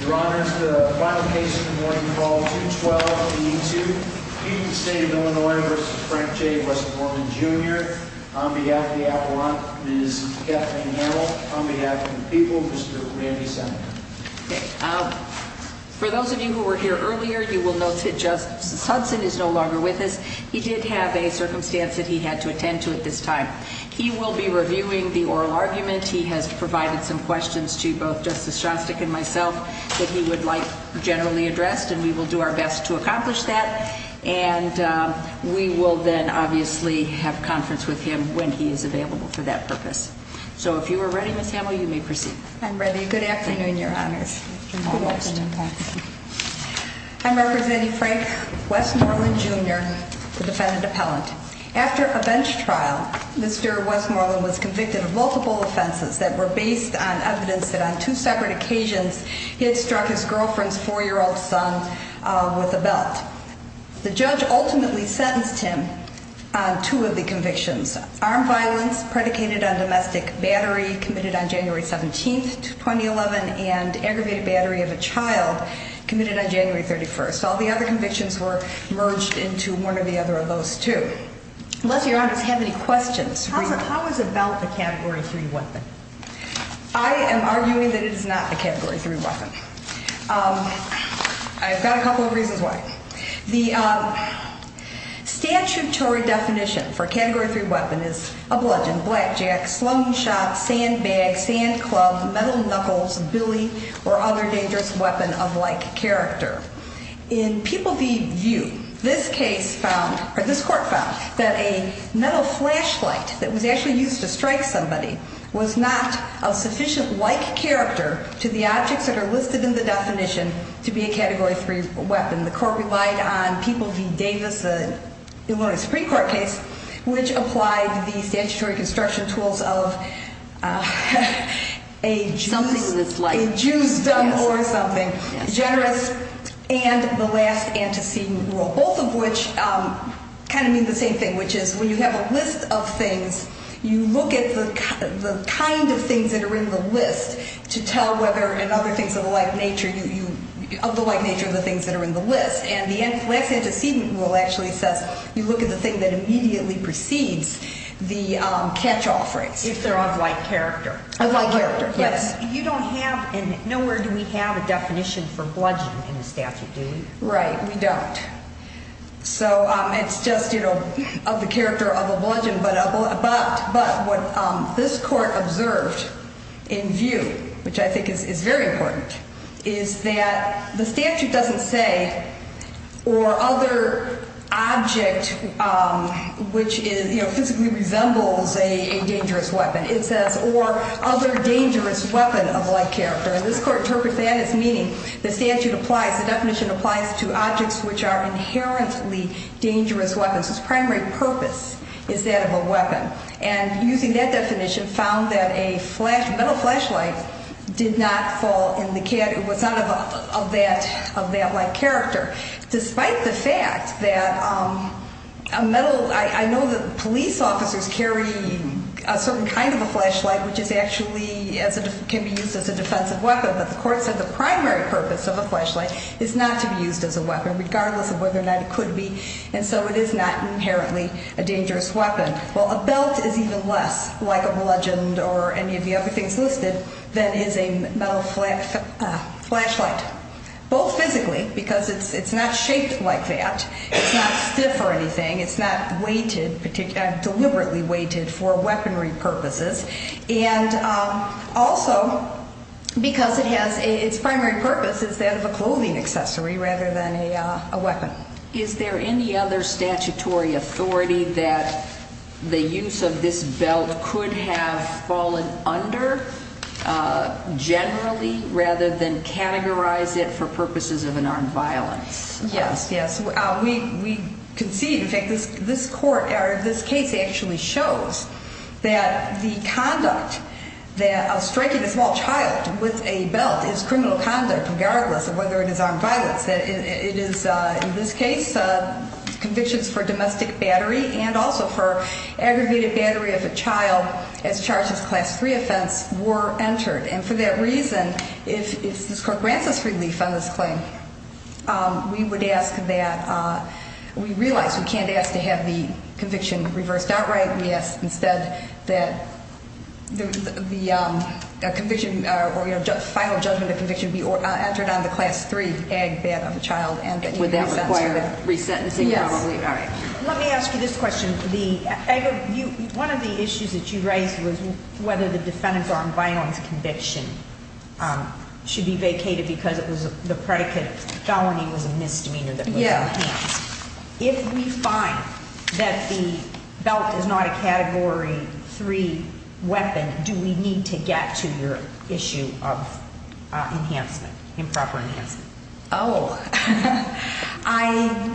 Your Honor, the final case of the morning, Clause 212 of the E-2, Keaton State of Illinois v. Frank J. Westmoreland, Jr. On behalf of the Avalanche, Ms. Kathleen Merrill. On behalf of the people, Mr. Randy Sumner. For those of you who were here earlier, you will note that Justice Hudson is no longer with us. He did have a circumstance that he had to attend to at this time. He will be reviewing the oral argument. He has provided some questions to both Justice Shostak and myself that he would like generally addressed. And we will do our best to accomplish that. And we will then obviously have conference with him when he is available for that purpose. So if you are ready, Ms. Hamill, you may proceed. I'm ready. Good afternoon, Your Honor. Good afternoon. I'm representing Frank Westmoreland, Jr., the defendant appellant. After a bench trial, Mr. Westmoreland was convicted of multiple offenses that were based on evidence that on two separate occasions he had struck his girlfriend's four-year-old son with a belt. The judge ultimately sentenced him on two of the convictions. Armed violence predicated on domestic battery committed on January 17th, 2011, and aggravated battery of a child committed on January 31st. All the other convictions were merged into one or the other of those two. Unless Your Honor has any questions. How is a belt a Category 3 weapon? I am arguing that it is not a Category 3 weapon. I've got a couple of reasons why. The statutory definition for a Category 3 weapon is a bludgeon, blackjack, slung shot, sandbag, sand club, metal knuckles, billy, or other dangerous weapon of like character. In People v. View, this court found that a metal flashlight that was actually used to strike somebody was not of sufficient like character to the objects that are listed in the definition to be a Category 3 weapon. The court relied on People v. Davis, the Illinois Supreme Court case, which applied the statutory construction tools of a juice done or something generous and the last antecedent rule. Both of which kind of mean the same thing, which is when you have a list of things, you look at the kind of things that are in the list to tell whether in other things of the like nature of the things that are in the list. And the last antecedent rule actually says you look at the thing that immediately precedes the catch-all phrase. If they're of like character. Of like character, yes. You don't have, and nowhere do we have a definition for bludgeon in the statute, do we? Right, we don't. So it's just, you know, of the character of a bludgeon, but what this court observed in View, which I think is very important, is that the statute doesn't say or other object which physically resembles a dangerous weapon. It says or other dangerous weapon of like character. And this court interprets that as meaning the statute applies, the definition applies to objects which are inherently dangerous weapons. Its primary purpose is that of a weapon. And using that definition found that a metal flashlight did not fall in the category, was not of that like character. Despite the fact that a metal, I know that police officers carry a certain kind of a flashlight which is actually, can be used as a defensive weapon. But the court said the primary purpose of a flashlight is not to be used as a weapon, regardless of whether or not it could be. And so it is not inherently a dangerous weapon. Well, a belt is even less like a bludgeon or any of the other things listed than is a metal flashlight. Both physically, because it's not shaped like that. It's not stiff or anything. It's not weighted, deliberately weighted for weaponry purposes. And also because it has, its primary purpose is that of a clothing accessory rather than a weapon. Is there any other statutory authority that the use of this belt could have fallen under generally rather than categorize it for purposes of an armed violence? Yes, yes. We can see in fact this court, or this case actually shows that the conduct of striking a small child with a belt is criminal conduct regardless of whether it is armed violence. It is, in this case, convictions for domestic battery and also for aggravated battery of a child as charged as class 3 offense were entered. And for that reason if this court grants us relief on this claim, we would ask that, we realize we can't ask to have the final judgment of conviction be entered on the class 3 ag bed of a child and that he be re-sentenced. Would that require re-sentencing? Yes. Let me ask you this question. One of the issues that you raised was whether the defendant's armed violence conviction should be vacated because the predicate of felony was a misdemeanor that was on the case. If we find that the is not a category 3 weapon, do we need to get to your issue of enhancement, improper enhancement? Oh, I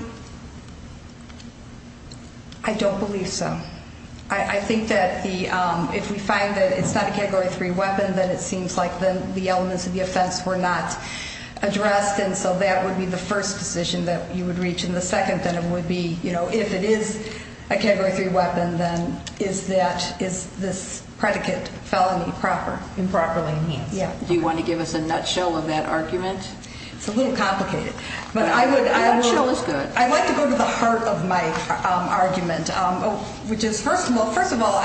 don't believe so. I think that if we find that it's not a category 3 weapon, then it seems like the elements of the offense were not addressed and so that would be the first decision that you would reach. And the second would be, if it is a category 3 weapon, then is this predicate felony improperly enhanced? Do you want to give us a nutshell of that argument? It's a little complicated. I'd like to go to the heart of my argument, which is first of all,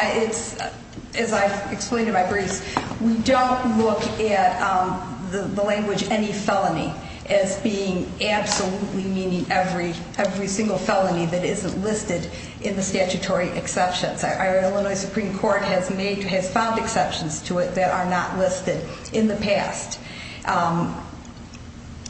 as I've explained in my briefs, we don't look at the language any felony as being absolutely meaning every single felony that isn't listed in the statutory exceptions. Our Illinois Supreme Court has found exceptions to it that are not listed in the past.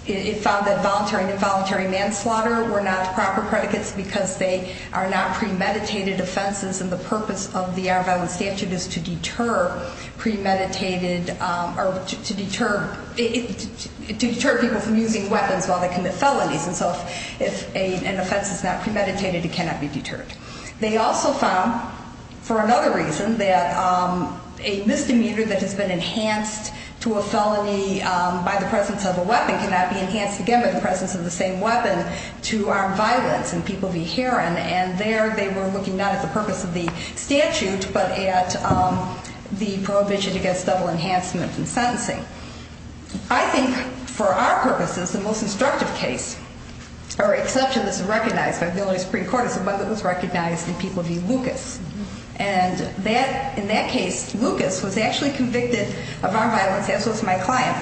It found that voluntary and involuntary manslaughter were not proper predicates because they are not premeditated offenses and the purpose of the armed violence statute is to deter premeditated, or to deter people from using weapons while they commit felonies. And so if an offense is not premeditated, it cannot be deterred. They also found, for another reason, that a misdemeanor that has been enhanced to a felony by the presence of a weapon cannot be enhanced again by the presence of the same weapon to armed violence and people be hearing. And there they were looking not at the purpose of the statute, but at the prohibition against double enhancement from sentencing. I think for our case, our exception that's recognized by the Illinois Supreme Court is the one that was recognized in People v. Lucas. And in that case, Lucas was actually convicted of armed violence, as was my client,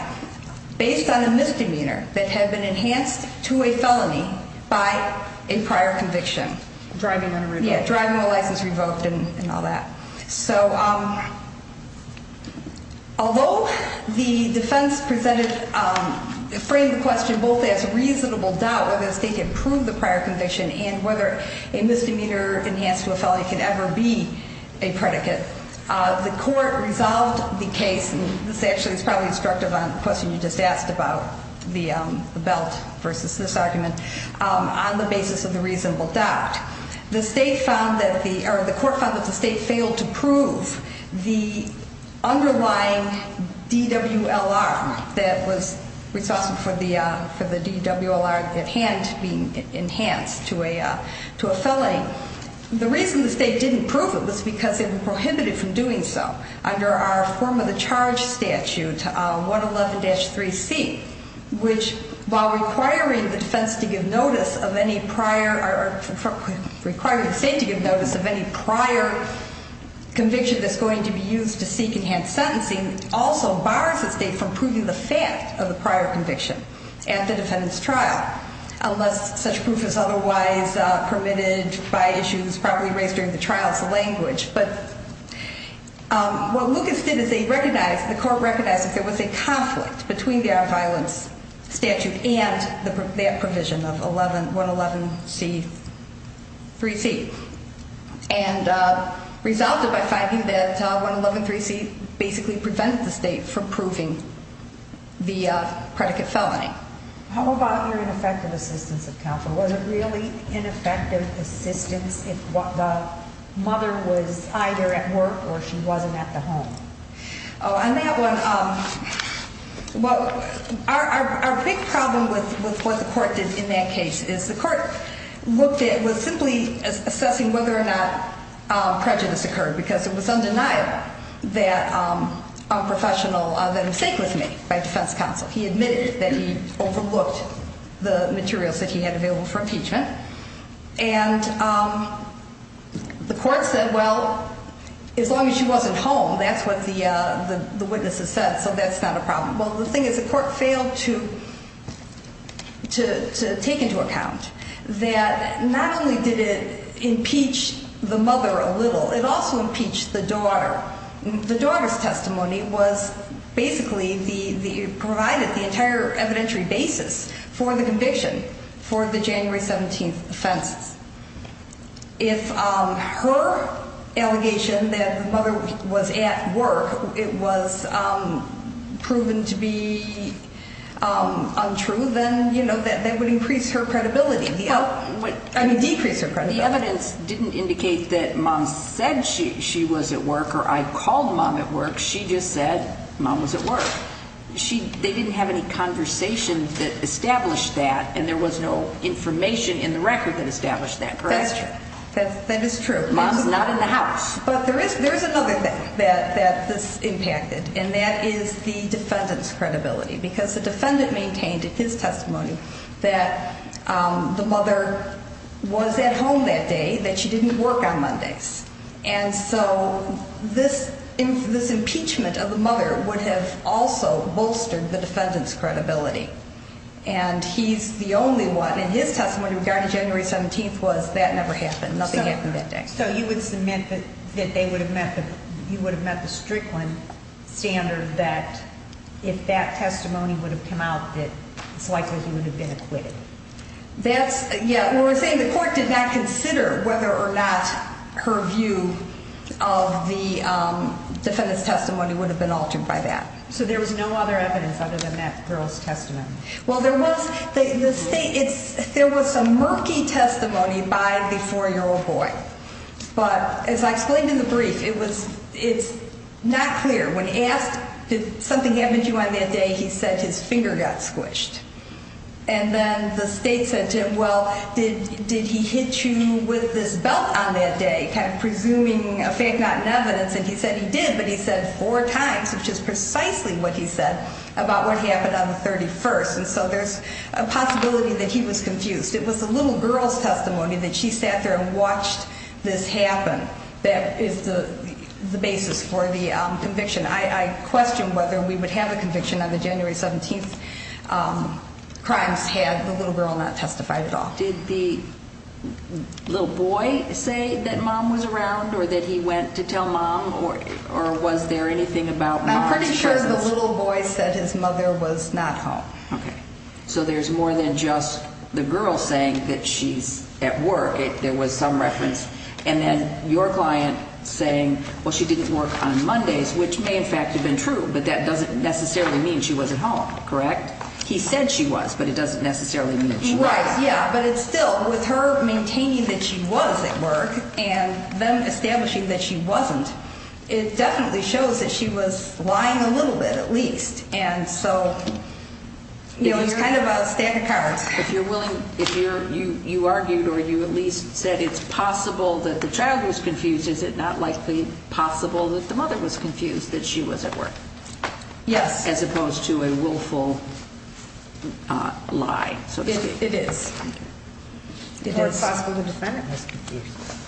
based on a misdemeanor that had been enhanced to a felony by a prior conviction. Driving a license revoked. Yeah, driving a license revoked and all that. Although the defense presented framed the question both as reasonable doubt whether the state could prove the prior conviction and whether a misdemeanor enhanced to a felony could ever be a predicate, the court resolved the case, and this actually is probably instructive on the question you just asked about the belt versus this argument, on the basis of the reasonable doubt. The court found that the state failed to prove the underlying DWLR that was responsible for the DWLR at hand being enhanced to a felony. The reason the state didn't prove it was because it prohibited from doing so under our form of the charge statute 111-3C, which while requiring the defense to give notice of any prior or requiring the state to give notice of any prior conviction that's going to be used to seek enhanced sentencing, also bars the state from proving the fact of the prior conviction at the defendant's trial, unless such proof is otherwise permitted by issues probably raised during the trial as the language. But what Lucas did is the court recognized that there was a conflict between the violence statute and that provision of 111- 3C, and resulted by finding that 111-3C basically prevented the state from proving the predicate felony. How about your ineffective assistance of counsel? Was it really ineffective assistance if the mother was either at work or she wasn't at the home? Oh, on that one, well, our big problem with what the court did in that case is the court looked at, was simply assessing whether or not prejudice occurred, because it was undeniable that a professional, that a mistake was made by defense counsel. He admitted that he overlooked the materials that he had available for impeachment, and the court said, well, as long as she wasn't home, that's what the witnesses said, so that's not a problem. Well, the thing is, the court failed to take into account that not only did it impeach the mother a little, it also impeached the daughter. The daughter's testimony was basically, provided the entire evidentiary basis for the conviction for the January 17th offense. If her allegation that the mother was at work, it was proven to be untrue, then that would increase her credibility. I mean, decrease her credibility. The evidence didn't indicate that mom said she was at work or I called mom at work, she just said mom was at work. They didn't have any conversation that established that, and there was no information in the record that established that, correct? That's true. That is true. Mom's not in the house. But there is another thing that this impacted, and that is the defendant's credibility, because the defendant maintained in his testimony that the mother was at home that day, that she didn't work on Mondays. And so this impeachment of the mother would have also bolstered the defendant's credibility. And he's the only one, and his testimony regarding January 17th was that never happened, nothing happened that day. So you would submit that you would have met the Strickland standard that if that testimony would have come out that it's likely he would have been acquitted. That's, yeah, we're saying the court did not consider whether or not her view of the defendant's testimony would have been altered by that. So there was no other evidence other than that girl's testimony. Well, there was, the state, there was some murky testimony by the 4-year-old boy. But as I explained in the brief, it's not clear. When asked, did something happen to you on that day, he said his finger got squished. And then the state said to him, well, did he hit you with this belt on that day, kind of presuming a fact not in evidence. And he said he did, but he said four times, which is precisely what he said about what happened on the 31st. And so there's a possibility that he was confused. It was the little girl's testimony that she sat there and watched this happen. That is the conviction. I question whether we would have a conviction on the January 17th crimes had the little girl not testified at all. Did the little boy say that mom was around or that he went to tell mom, or was there anything about mom? I'm pretty sure the little boy said his mother was not home. So there's more than just the girl saying that she's at work. There was some reference. And then your client saying well, she didn't work on Mondays, which may in fact have been true, but that doesn't necessarily mean she wasn't home. Correct? He said she was, but it doesn't necessarily mean she wasn't. Right. Yeah. But it's still with her maintaining that she was at work and then establishing that she wasn't, it definitely shows that she was lying a little bit at least. And so it was kind of a stack of cards. If you're willing, if you argued or you at least said it's possible that the mother was confused that she was at work. Yes. As opposed to a willful lie. It is. Or it's possible the defendant was confused.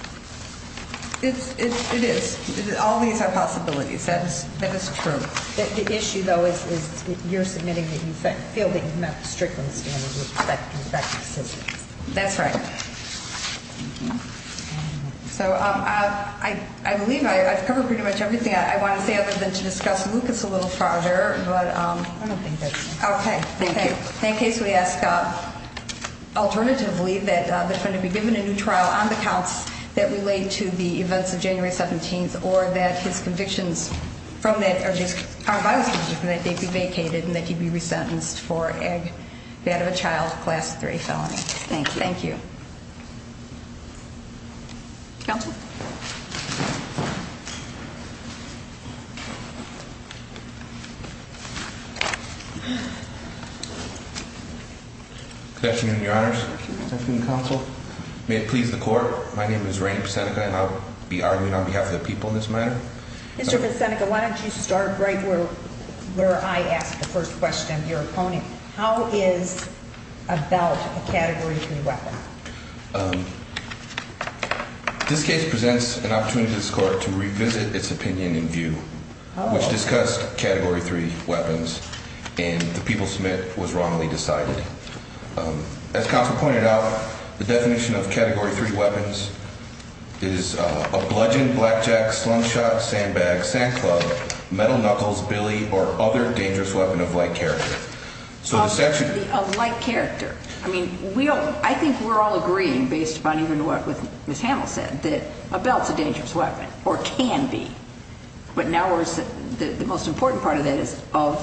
It is. All these are possibilities. That is true. The issue though is you're submitting that you feel that you met the Strickland standards with respect to effective assistance. That's right. So I believe I've covered pretty much everything I want to say other than to discuss Lucas a little farther. I don't think that's necessary. Okay. Thank you. In case we ask alternatively that the defendant be given a new trial on the counts that relate to the events of January 17th or that his convictions from that are just, are biospecific and that they be vacated and that he be resentenced for ag, bed of a child, class 3 felony. Thank you. Counsel. Good afternoon, Your Honors. Good afternoon, Counsel. May it please the court. My name is Rainer Seneca and I'll be arguing on behalf of the people in this matter. Mr. Seneca, why don't you start right where I asked the first question, your opponent. How is about a category three weapon? This case presents an opportunity to this court to revisit its opinion and view which discussed category three weapons and the people submit was wrongly decided. As counsel pointed out, the definition of category three weapons is a bludgeon, blackjack, slingshot, sandbag, sand club, metal knuckles, Billy or other dangerous weapon of light character. I mean, we don't, I think we're all agreeing based upon even what Ms. Hamill said that a belt's a dangerous weapon or can be. But now the most important part of that is of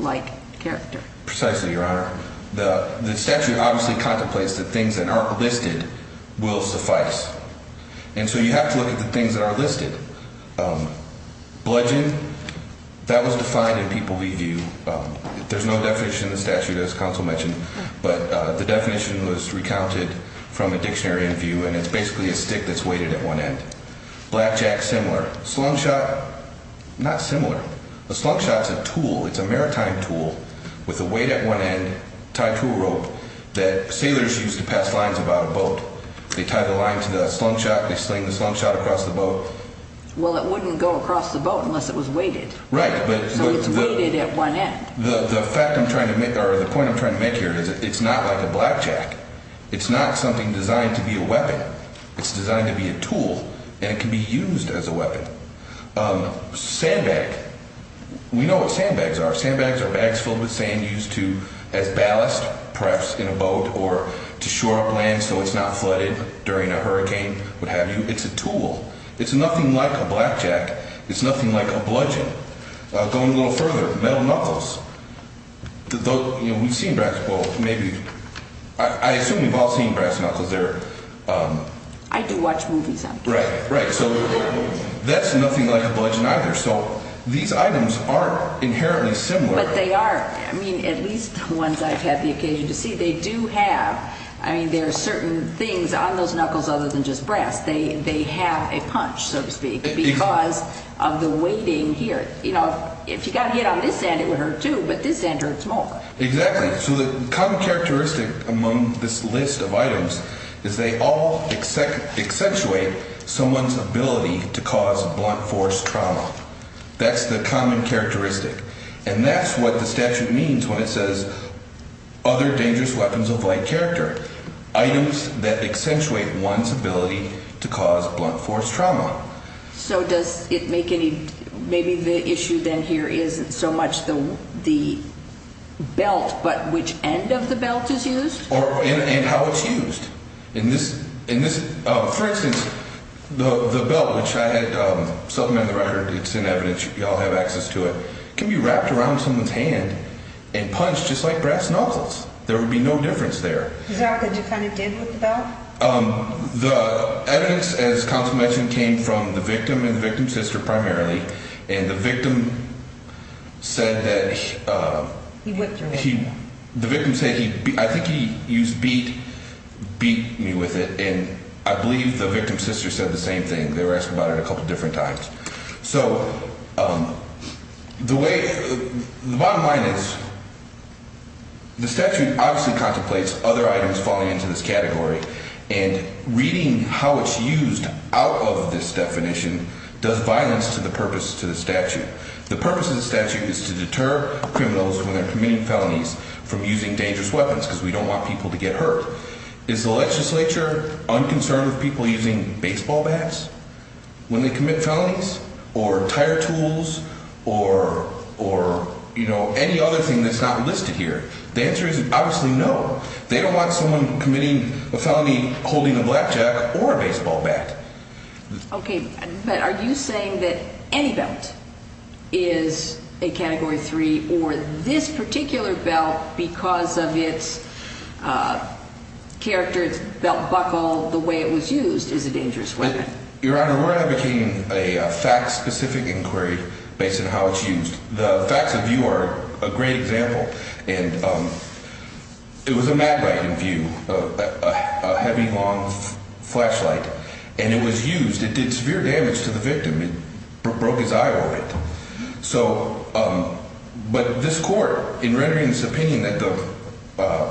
light character. Precisely, Your Honor. The statute obviously contemplates that things that aren't listed will suffice. And so you have to look at the things that are listed. Bludgeon, that was defined in people review. There's no definition in the statute as counsel mentioned, but the definition was recounted from a dictionary in view and it's basically a stick that's weighted at one end. Blackjack, similar. Slingshot, not similar. A slingshot's a tool. It's a maritime tool with a weight at one end tied to a rope that sailors used to pass lines about a boat. They tie the line to the slingshot and they sling the slingshot across the boat. Well, it wouldn't go across the boat unless it was weighted. Right. So it's weighted at one end. The fact I'm trying to make or the point I'm trying to make here is it's not like a blackjack. It's not something designed to be a weapon. It's designed to be a tool and it can be used as a weapon. Sandbag, we know what sandbags are. Sandbags are bags filled with sand used as ballast perhaps in a boat or to shore up land so it's not flooded during a hurricane, what have you. It's a tool. It's nothing like a blackjack. It's nothing like a bludgeon. Going a little further, metal knuckles. We've seen brass, well, maybe I assume we've all seen brass knuckles. I do watch movies sometimes. Right. So that's nothing like a bludgeon either. So these items are inherently similar. But they are at least the ones I've had the occasion to see, they do have there are certain things on those knuckles other than just brass. They have a punch so to speak because of the weighting here. If you got hit on this end it would hurt too but this end hurts more. Exactly. So the common characteristic among this list of items is they all accentuate someone's ability to cause blunt force trauma. That's the common characteristic. And that's what the statute means when it says other dangerous weapons of light character. Items that accentuate one's blunt force trauma. So does it make any, maybe the issue then here isn't so much the belt but which end of the belt is used? And how it's used. For instance, the belt which I had supplemented the record, it's in evidence. You all have access to it. It can be wrapped around someone's hand and punched just like brass knuckles. There would be no difference there. Is that what you kind of did with the belt? The evidence as counsel mentioned came from the victim and the victim's sister primarily and the victim said that he whipped her hand. I think he used beat, beat me with it and I believe the victim's sister said the same thing. They were asking about it a couple different times. So the way, the bottom line is the statute obviously contemplates other items falling into this category and reading how it's used out of this definition does violence to the purpose to the statute. The purpose of the statute is to deter criminals when they're committing felonies from using dangerous weapons because we don't want people to get hurt. Is the legislature unconcerned with people using baseball bats when they commit felonies or tire tools or any other thing that's not listed here? The answer is obviously no. They don't want someone committing a felony holding a blackjack or a baseball bat. Are you saying that any belt is a category 3 or this particular belt because of its character, its belt buckle, the way it was used is a dangerous weapon? Your Honor, we're advocating a fact specific inquiry based on how it's used. The facts of view are a great example. It was a map writing view, a heavy long flashlight and it was used. It did severe damage to the victim. It broke his eye orbit. But this court in rendering this opinion that the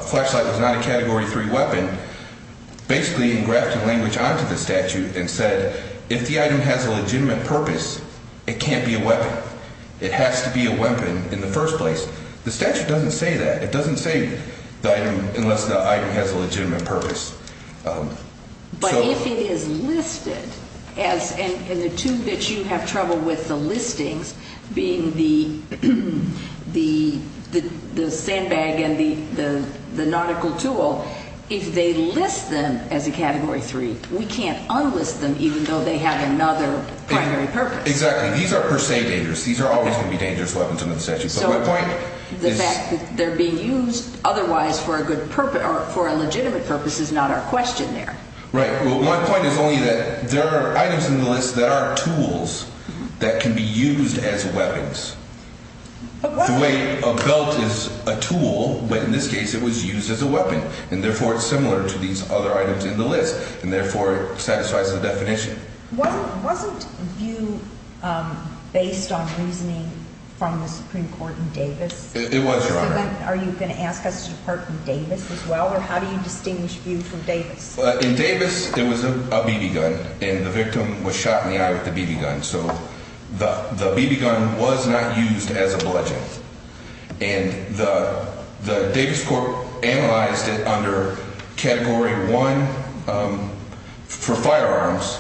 flashlight was not a category 3 weapon basically engrafted language onto the statute and said if the item has a legitimate purpose, it can't be a weapon. It has to be a weapon in the first place. The statute doesn't say that. It doesn't say unless the item has a legitimate purpose. But if it is listed and the two that you have trouble with, the listings, being the sandbag and the nautical tool, if they list them as a category 3, we can't unlist them even though they have another primary purpose. Exactly. These are per se dangerous. These are always going to be dangerous weapons under the statute. The fact that they're being used otherwise for a good purpose or for a legitimate purpose is not our question there. Right. Well, my point is only that there are items in the list that are tools that can be used as weapons. The way a belt is a tool, but in this case it was used as a weapon and therefore it's similar to these other items in the list and therefore it satisfies the definition. Wasn't VIEW based on reasoning from the Supreme Court in Davis? It was, Your Honor. Are you going to ask us to depart from Davis as well or how do you distinguish VIEW from Davis? In Davis it was a BB gun and the victim was shot in the eye with the BB gun. So the BB gun was not used as a bludgeon. And the Davis Court analyzed it under category 1 for firearms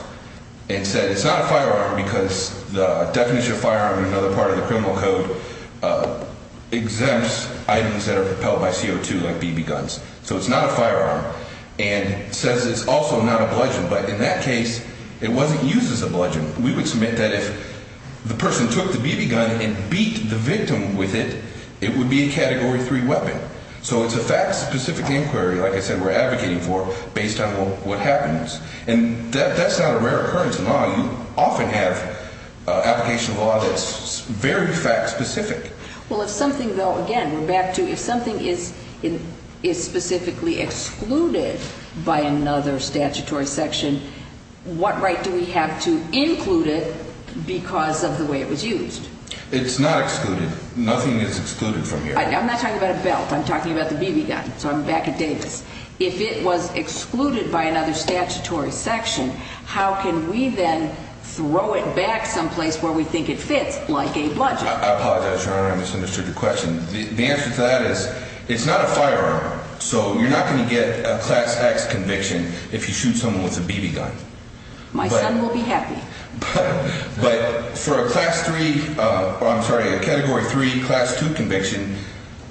and said it's not a firearm because the definition of firearm in another part of the criminal code exempts items that are propelled by CO2 like BB guns. So it's not a firearm and says it's also not a bludgeon, but in that case it wasn't used as a bludgeon. We would submit that if the person took the BB gun and beat the victim with it, it would be a category 3 weapon. So it's a fact specific inquiry, like I said, we're advocating for based on what happens. And that's not a rare occurrence in law. You often have application of law that's very fact specific. Well, if something, though, again, we're back to if something is specifically excluded by another statutory section, what right do we have to include it because of the way it was used? It's not excluded. Nothing is excluded from here. I'm not talking about a belt. I'm talking about the if it was excluded by another statutory section, how can we then throw it back someplace where we think it fits like a bludgeon? I apologize, Your Honor. I misunderstood your question. The answer to that is it's not a firearm. So you're not going to get a class X conviction if you shoot someone with a BB gun. My son will be happy. But for a class 3, I'm sorry, a category 3 class 2 conviction,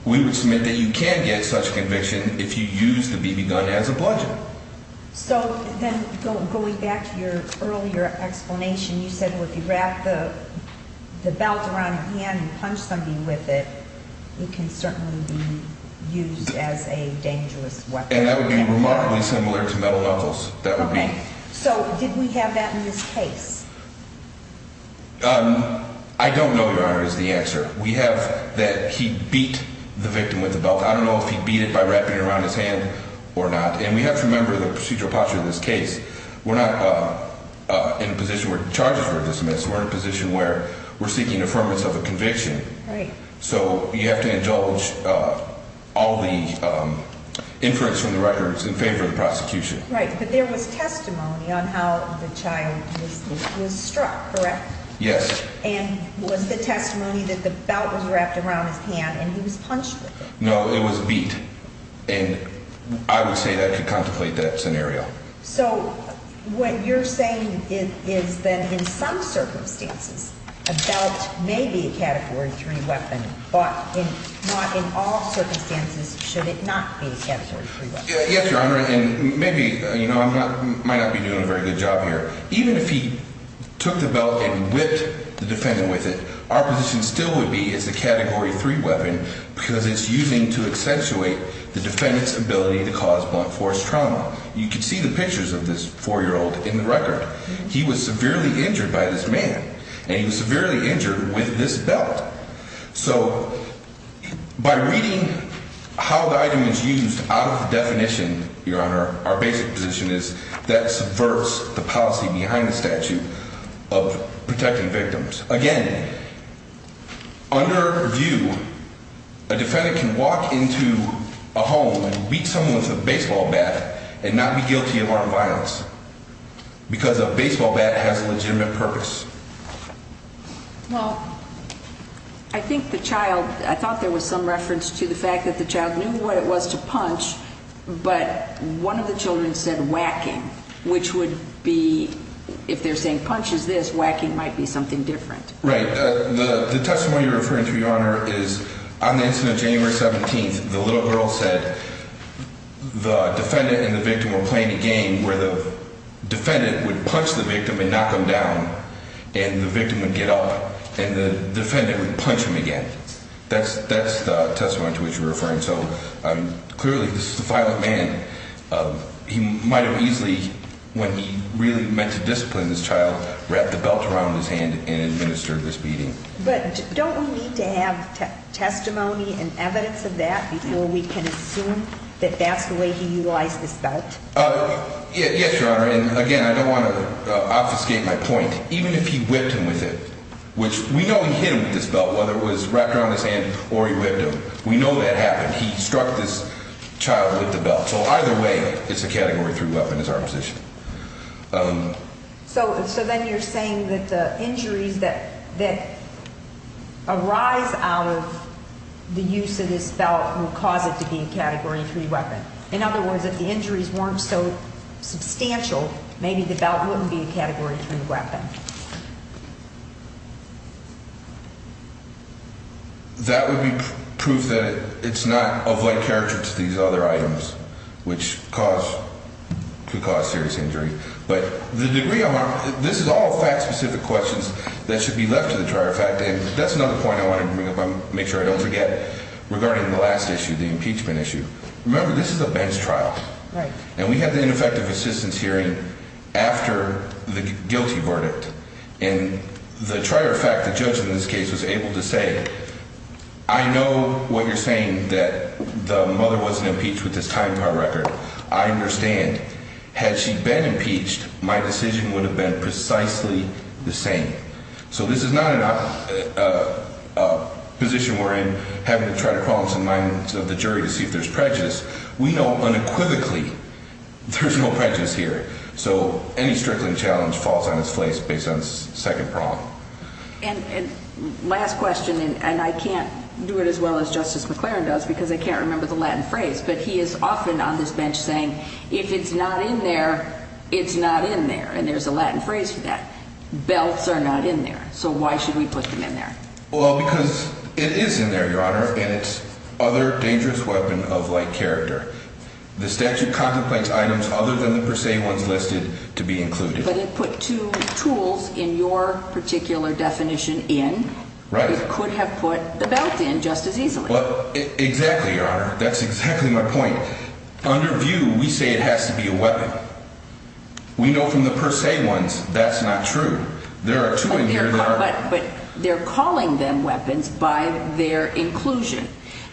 we would submit that you can get such conviction if you use the BB gun as a bludgeon. So then going back to your earlier explanation, you said if you wrap the belt around your hand and punch somebody with it, it can certainly be used as a dangerous weapon. And that would be remarkably similar to metal knuckles. So did we have that in this case? I don't know, Your Honor, is the answer. We have that he beat the victim with the belt. I don't know if he beat it by wrapping it around his hand or not. And we have to remember the procedural posture in this case. We're not in a position where charges were dismissed. We're in a position where we're seeking affirmance of a conviction. So you have to indulge all the inference from the records in favor of the prosecution. Right. But there was testimony on how the child was struck, correct? Yes. And was the testimony that the child was punched with? No, it was beat. And I would say that I could contemplate that scenario. So what you're saying is that in some circumstances, a belt may be a Category 3 weapon, but not in all circumstances should it not be a Category 3 weapon. Yes, Your Honor, and maybe I might not be doing a very good job here. Even if he took the belt and whipped the defendant with it, our position still would be it's a Category 3 weapon because it's using to accentuate the defendant's ability to cause blunt force trauma. You can see the pictures of this 4-year-old in the record. He was severely injured by this man. And he was severely injured with this belt. So by reading how the item is used out of the definition, Your Honor, our basic position is that subverts the policy behind the statute of protecting victims. Again, under review, a defendant can walk into a home and beat someone with a baseball bat and not be guilty of armed violence because a baseball bat has a legitimate purpose. Well, I think the child, I thought there was some reference to the fact that the child knew what it was to punch, but one of the children said whacking, which would be, if they're saying if he punches this, whacking might be something different. Right. The testimony you're referring to, Your Honor, is on the incident of January 17th, the little girl said the defendant and the victim were playing a game where the defendant would punch the victim and knock him down and the victim would get up and the defendant would punch him again. That's the testimony to which you're referring. So clearly this is a violent man. He might have easily, when he really meant to discipline this child, wrapped the belt around his hand and administered this beating. But don't we need to have testimony and evidence of that before we can assume that that's the way he utilized this belt? Yes, Your Honor, and again, I don't want to obfuscate my point. Even if he whipped him with it, which we know he hit him with this belt, whether it was wrapped around his hand or he whipped him, we know that happened. He struck this child with the belt. So either way, it's a Category 3 weapon is our position. So then you're saying that the injuries that arise out of the use of this belt will cause it to be a Category 3 weapon. In other words, if the injuries weren't so substantial, maybe the belt wouldn't be a Category 3 weapon. That would be proof that it's not of like character to these other weapons, which could cause serious injury. But the degree of harm, this is all fact-specific questions that should be left to the trier of fact. And that's another point I want to make sure I don't forget regarding the last issue, the impeachment issue. Remember, this is a bench trial. And we had the ineffective assistance hearing after the guilty verdict. And the trier of fact, the judge in this case, was able to say, I know what you're saying, that the mother wasn't impeached with this time trial record. I understand. Had she been impeached, my decision would have been precisely the same. So this is not a position wherein having to try to crawl into the mind of the jury to see if there's prejudice. We know unequivocally there's no prejudice here. So any strickling challenge falls on its face based on the second problem. And last question, and I can't do it as well as Justice McClaren does, because I can't remember the Latin phrase, but he is often on this bench saying, if it's not in there, it's not in there. And there's a Latin phrase for that. Belts are not in there. So why should we put them in there? Well, because it is in there, Your Honor, and it's other dangerous weapon of like character. The statute contemplates items other than the per se ones listed to be included. But it put two tools in your particular definition in. It could have put the belt in just as easily. Exactly, Your Honor. That's exactly my point. Under view, we say it has to be a weapon. We know from the per se ones that's not true. There are two in here that are. But they're calling them weapons by their inclusion,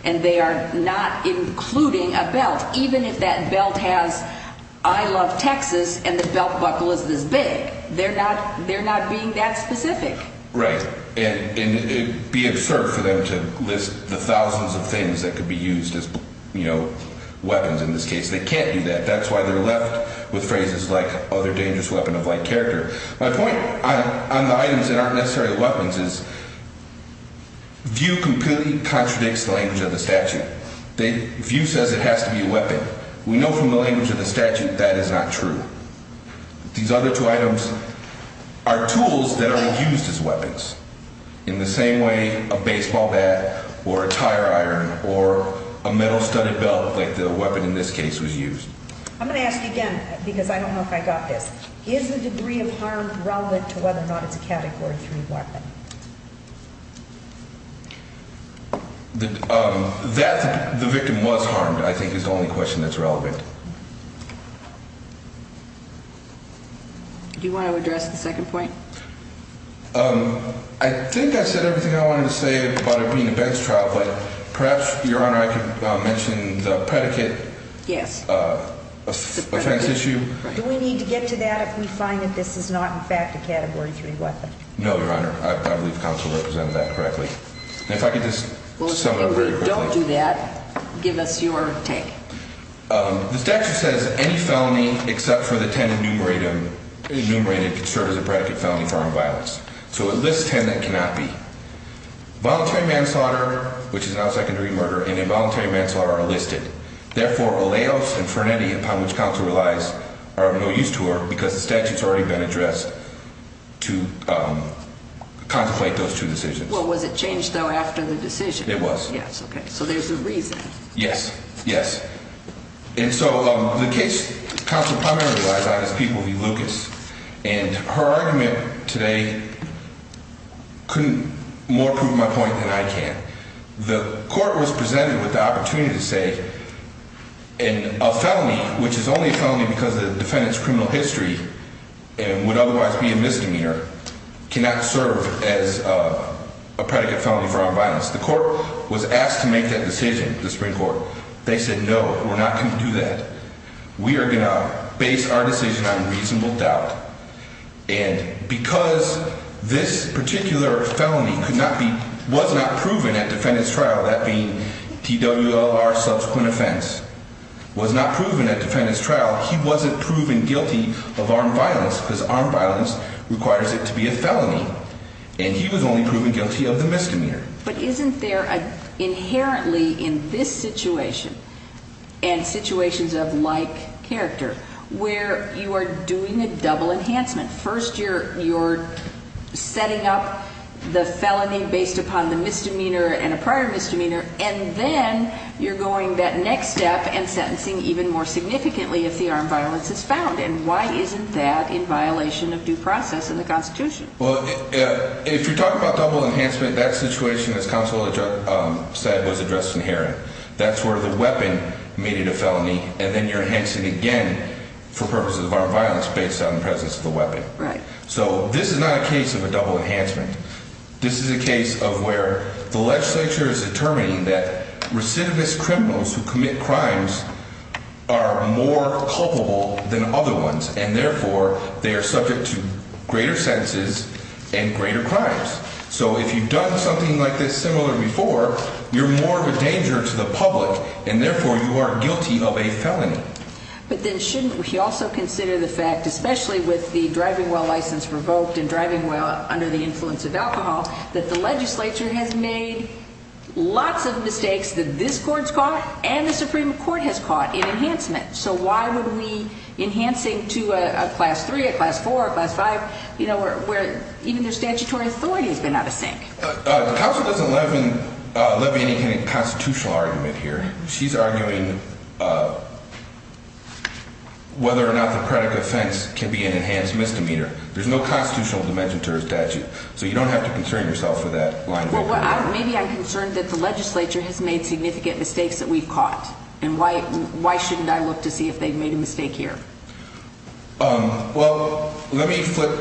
and they are not including a belt, even if that belt has I love Texas and the belt buckle is this big. They're not being that specific. Right. And it would be absurd for them to list the thousands of things that could be used as weapons in this case. They can't do that. That's why they're left with phrases like other dangerous weapon of like character. My point on the items that aren't necessarily weapons is view completely contradicts the language of the statute. View says it has to be a weapon. We know from the language of the statute that is not true. These other two items are tools that are used as weapons in the same way a baseball bat or a tire iron or a metal studded belt like the weapon in this case was used. I'm going to ask again, because I don't know if I got this. Is the degree of harm relevant to whether or not it's a Category 3 weapon? That the victim was harmed, I think, is the only question that's relevant. Do you want to address the second point? I think I said everything I wanted to say about it being a bench trial, but perhaps, Your Honor, I could mention the predicate offense issue. Do we need to get to that if we find that this is not, in fact, a Category 3 weapon? No, Your Honor. I believe the counsel represented that correctly. If I could just sum it up very quickly. If we don't do that, give us your take. The statute says any felony except for the 10 enumerated can serve as a predicate felony for armed violence. It lists 10 that cannot be. Voluntary manslaughter, which is an out-of-secondary murder, and involuntary manslaughter are listed. Therefore, aleos and freneti, upon which counsel relies, are of no use to her because the statute's already been addressed to contemplate those two decisions. Was it changed, though, after the decision? It was. So there's a reason. Yes. The case counsel primarily relies on is People v. Lucas. Her argument today couldn't more prove my point than I can. The court was presented with the opportunity to say a felony, which is only a felony because the defendant's criminal history would otherwise be a misdemeanor, cannot serve as a predicate felony for armed violence. The court was asked to make that decision, the Supreme Court. They said, no, we're not going to do that. We are going to base our decision on reasonable doubt. And because this particular felony was not proven at defendant's trial, that being TWLR subsequent offense, was not proven at defendant's trial, he wasn't proven guilty of armed violence because armed violence requires it to be a felony. And he was only proven guilty of the misdemeanor. But isn't there inherently in this situation, and situations of like character, where you are doing a double enhancement? First you're setting up the felony based upon the misdemeanor and a prior misdemeanor, and then you're going that next step and sentencing even more significantly if the armed violence is found. And why isn't that in violation of due process in the Constitution? Well, if you're talking about double enhancement, that situation as counsel said was addressed in Heron. That's where the weapon made it a felony, and then you're enhancing again for purposes of armed violence based on the presence of the weapon. Right. So this is not a case of a double enhancement. This is a case of where the legislature is determining that recidivist criminals who commit crimes are more culpable than other ones, and therefore they are subject to greater sentences and greater crimes. So if you've done something like this similar before, you're more of a danger to the public, and therefore you are guilty of a felony. But then shouldn't we also consider the fact, especially with the driving while license revoked and driving while under the influence of alcohol, that the legislature has made lots of mistakes that this Court's caught and the Supreme Court has caught in enhancement. So why would we be enhancing to a class 3, a class 4, a class 5, where even their statutory authority has been out of sync? The counsel doesn't levy any kind of constitutional argument here. She's arguing whether or not the credit offense can be an enhanced misdemeanor. There's no constitutional dimension to her statute. So you don't have to concern yourself with that line of inquiry. Well, maybe I'm concerned that the legislature has made significant mistakes that we've caught, and why shouldn't I look to see if they've made a mistake here? Well, let me flip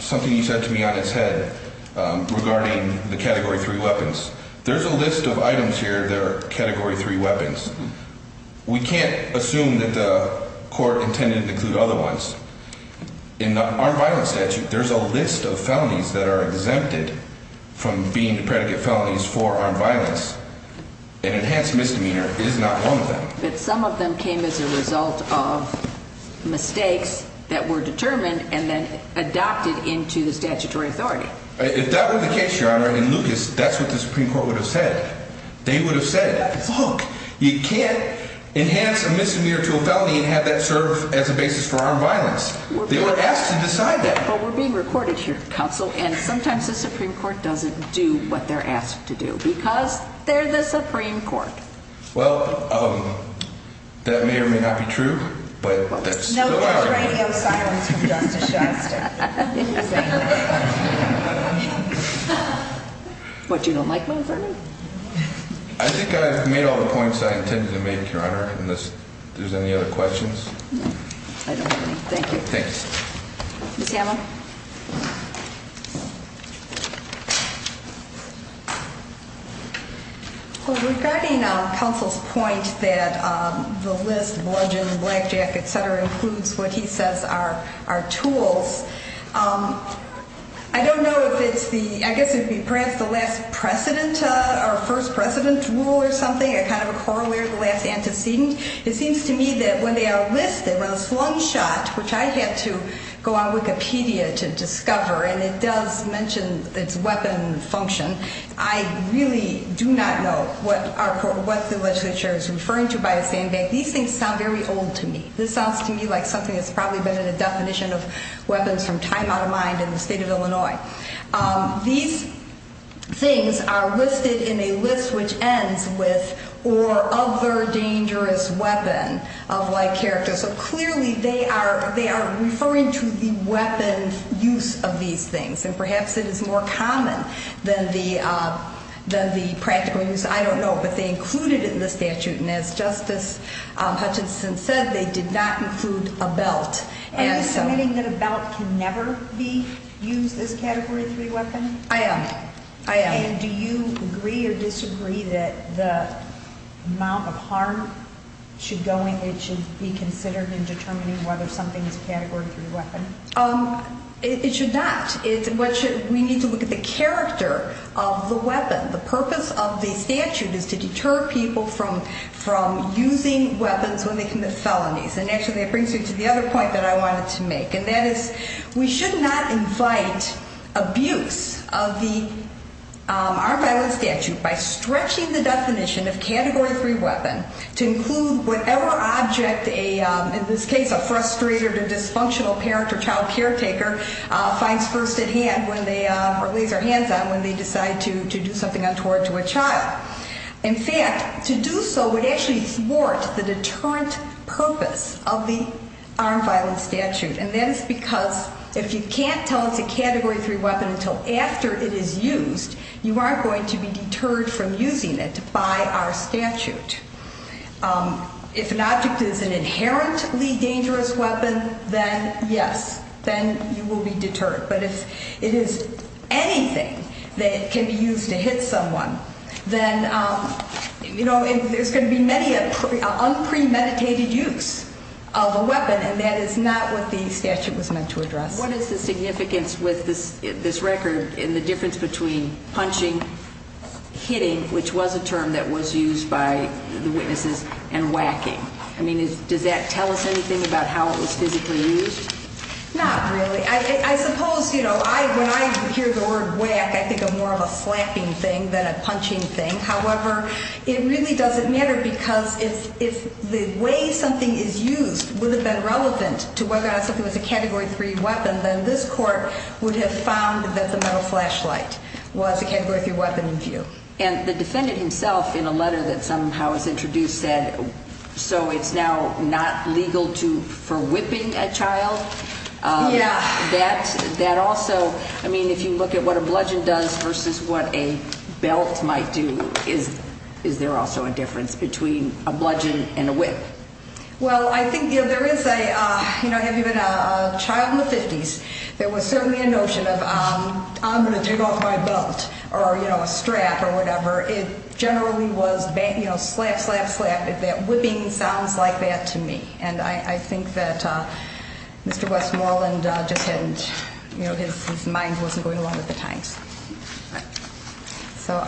something you said to me on its head regarding the Category 3 weapons. There's a list of items here that are Category 3 weapons. We can't assume that the Court intended to include other ones. In the armed violence statute, there's a list of felonies that are exempted from being predicate felonies for armed violence. An enhanced misdemeanor is not one of them. But some of them came as a result of mistakes that were determined and then adopted into the statutory authority. If that were the case, Your Honor, in Lucas, that's what the Supreme Court would have said. They would have said, look, you can't enhance a misdemeanor to a felony and have that serve as a basis for armed violence. They were asked to decide that. But we're being recorded here, counsel, and sometimes the Supreme Court doesn't do what they're asked to do because they're the Supreme Court. Well, that may or may not be true, but there still are. What, you don't like my verdict? I think I've made all the points I intended to make, Your Honor. Unless there's any other questions? I don't have any. Thank you. Regarding counsel's point that the list of origin, blackjack, etc. includes what he says are tools, I don't know if it's the, I guess it would be perhaps the last precedent or first precedent rule or something, a kind of a corollary of the last antecedent. It seems to me that when they outlist the slung shot, which I have to go on Wikipedia to discover, and it does mention its weapon function, I really do not know what the legislature is referring to by a sandbag. These things sound very old to me. This sounds to me like something that's probably been in a definition of weapons from time out of mind in the state of Illinois. These things are listed in a list which ends with or other dangerous weapon of like character. So clearly they are referring to the weapon use of these things. And perhaps it is more common than the practical use. I don't know. But they included it in the statute and as Justice Hutchinson said, they did not include a belt. Are you submitting that a belt can never be used as a Category 3 weapon? I am. I am. And do you agree or disagree that the amount of harm should be considered in determining whether something is a Category 3 weapon? It should not. We need to look at the character of the weapon. The purpose of the statute is to deter people from using weapons when they commit felonies. And actually that brings me to the other point that I wanted to make. And that is we should not invite abuse of the armed violence statute by stretching the definition of Category 3 weapon to include whatever object in this case a frustrated or dysfunctional parent or child caretaker lays their hands on when they decide to do something untoward to a child. In fact, to do so would actually thwart the deterrent purpose of the armed violence statute. And that is because if you can't tell it's a Category 3 weapon until after it is used, you aren't going to be deterred from using it by our statute. If an object is an inherently dangerous weapon, then yes, then you will be deterred. But if it is anything that can be used to hit someone, then there's going to be many an unpremeditated use of a weapon and that is not what the statute was meant to address. What is the significance with this record in the difference between punching, hitting, which was a term that was used by the witnesses, and whacking? I mean, does that tell us anything about how it was physically used? Not really. I suppose when I hear the word whack, I think of more of a slapping thing than a punching thing. However, it really doesn't matter because if the way something is used would have been relevant to whether or not something was a Category 3 weapon, then this Court would have found that the metal flashlight was a Category 3 weapon in view. And the defendant himself, in a letter that somehow was introduced, said so it's now not legal for whipping a child? Yeah. That also, I mean, if you look at what a bludgeon does versus what a belt might do, is there also a difference between a bludgeon and a whip? Well, I think there is a, you know, have you been a child in the 50s, there was certainly a notion of I'm going to take off my belt or, you know, a strap or whatever. It generally was slap, slap, slap, if that whipping sounds like that to me. And I think that Mr. Westmoreland just hadn't, you know, his mind wasn't going along at the time. So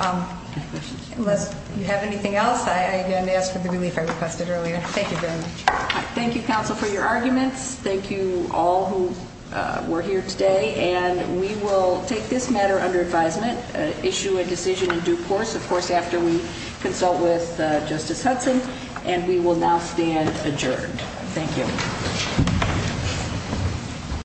unless you have anything else, I again ask for the relief I requested earlier. Thank you very much. Thank you, Counsel, for your arguments. Thank you all who were here today, and we will take this matter under advisement, issue a decision in due course of course after we consult with Justice Hudson, and we will now stand adjourned. Thank you.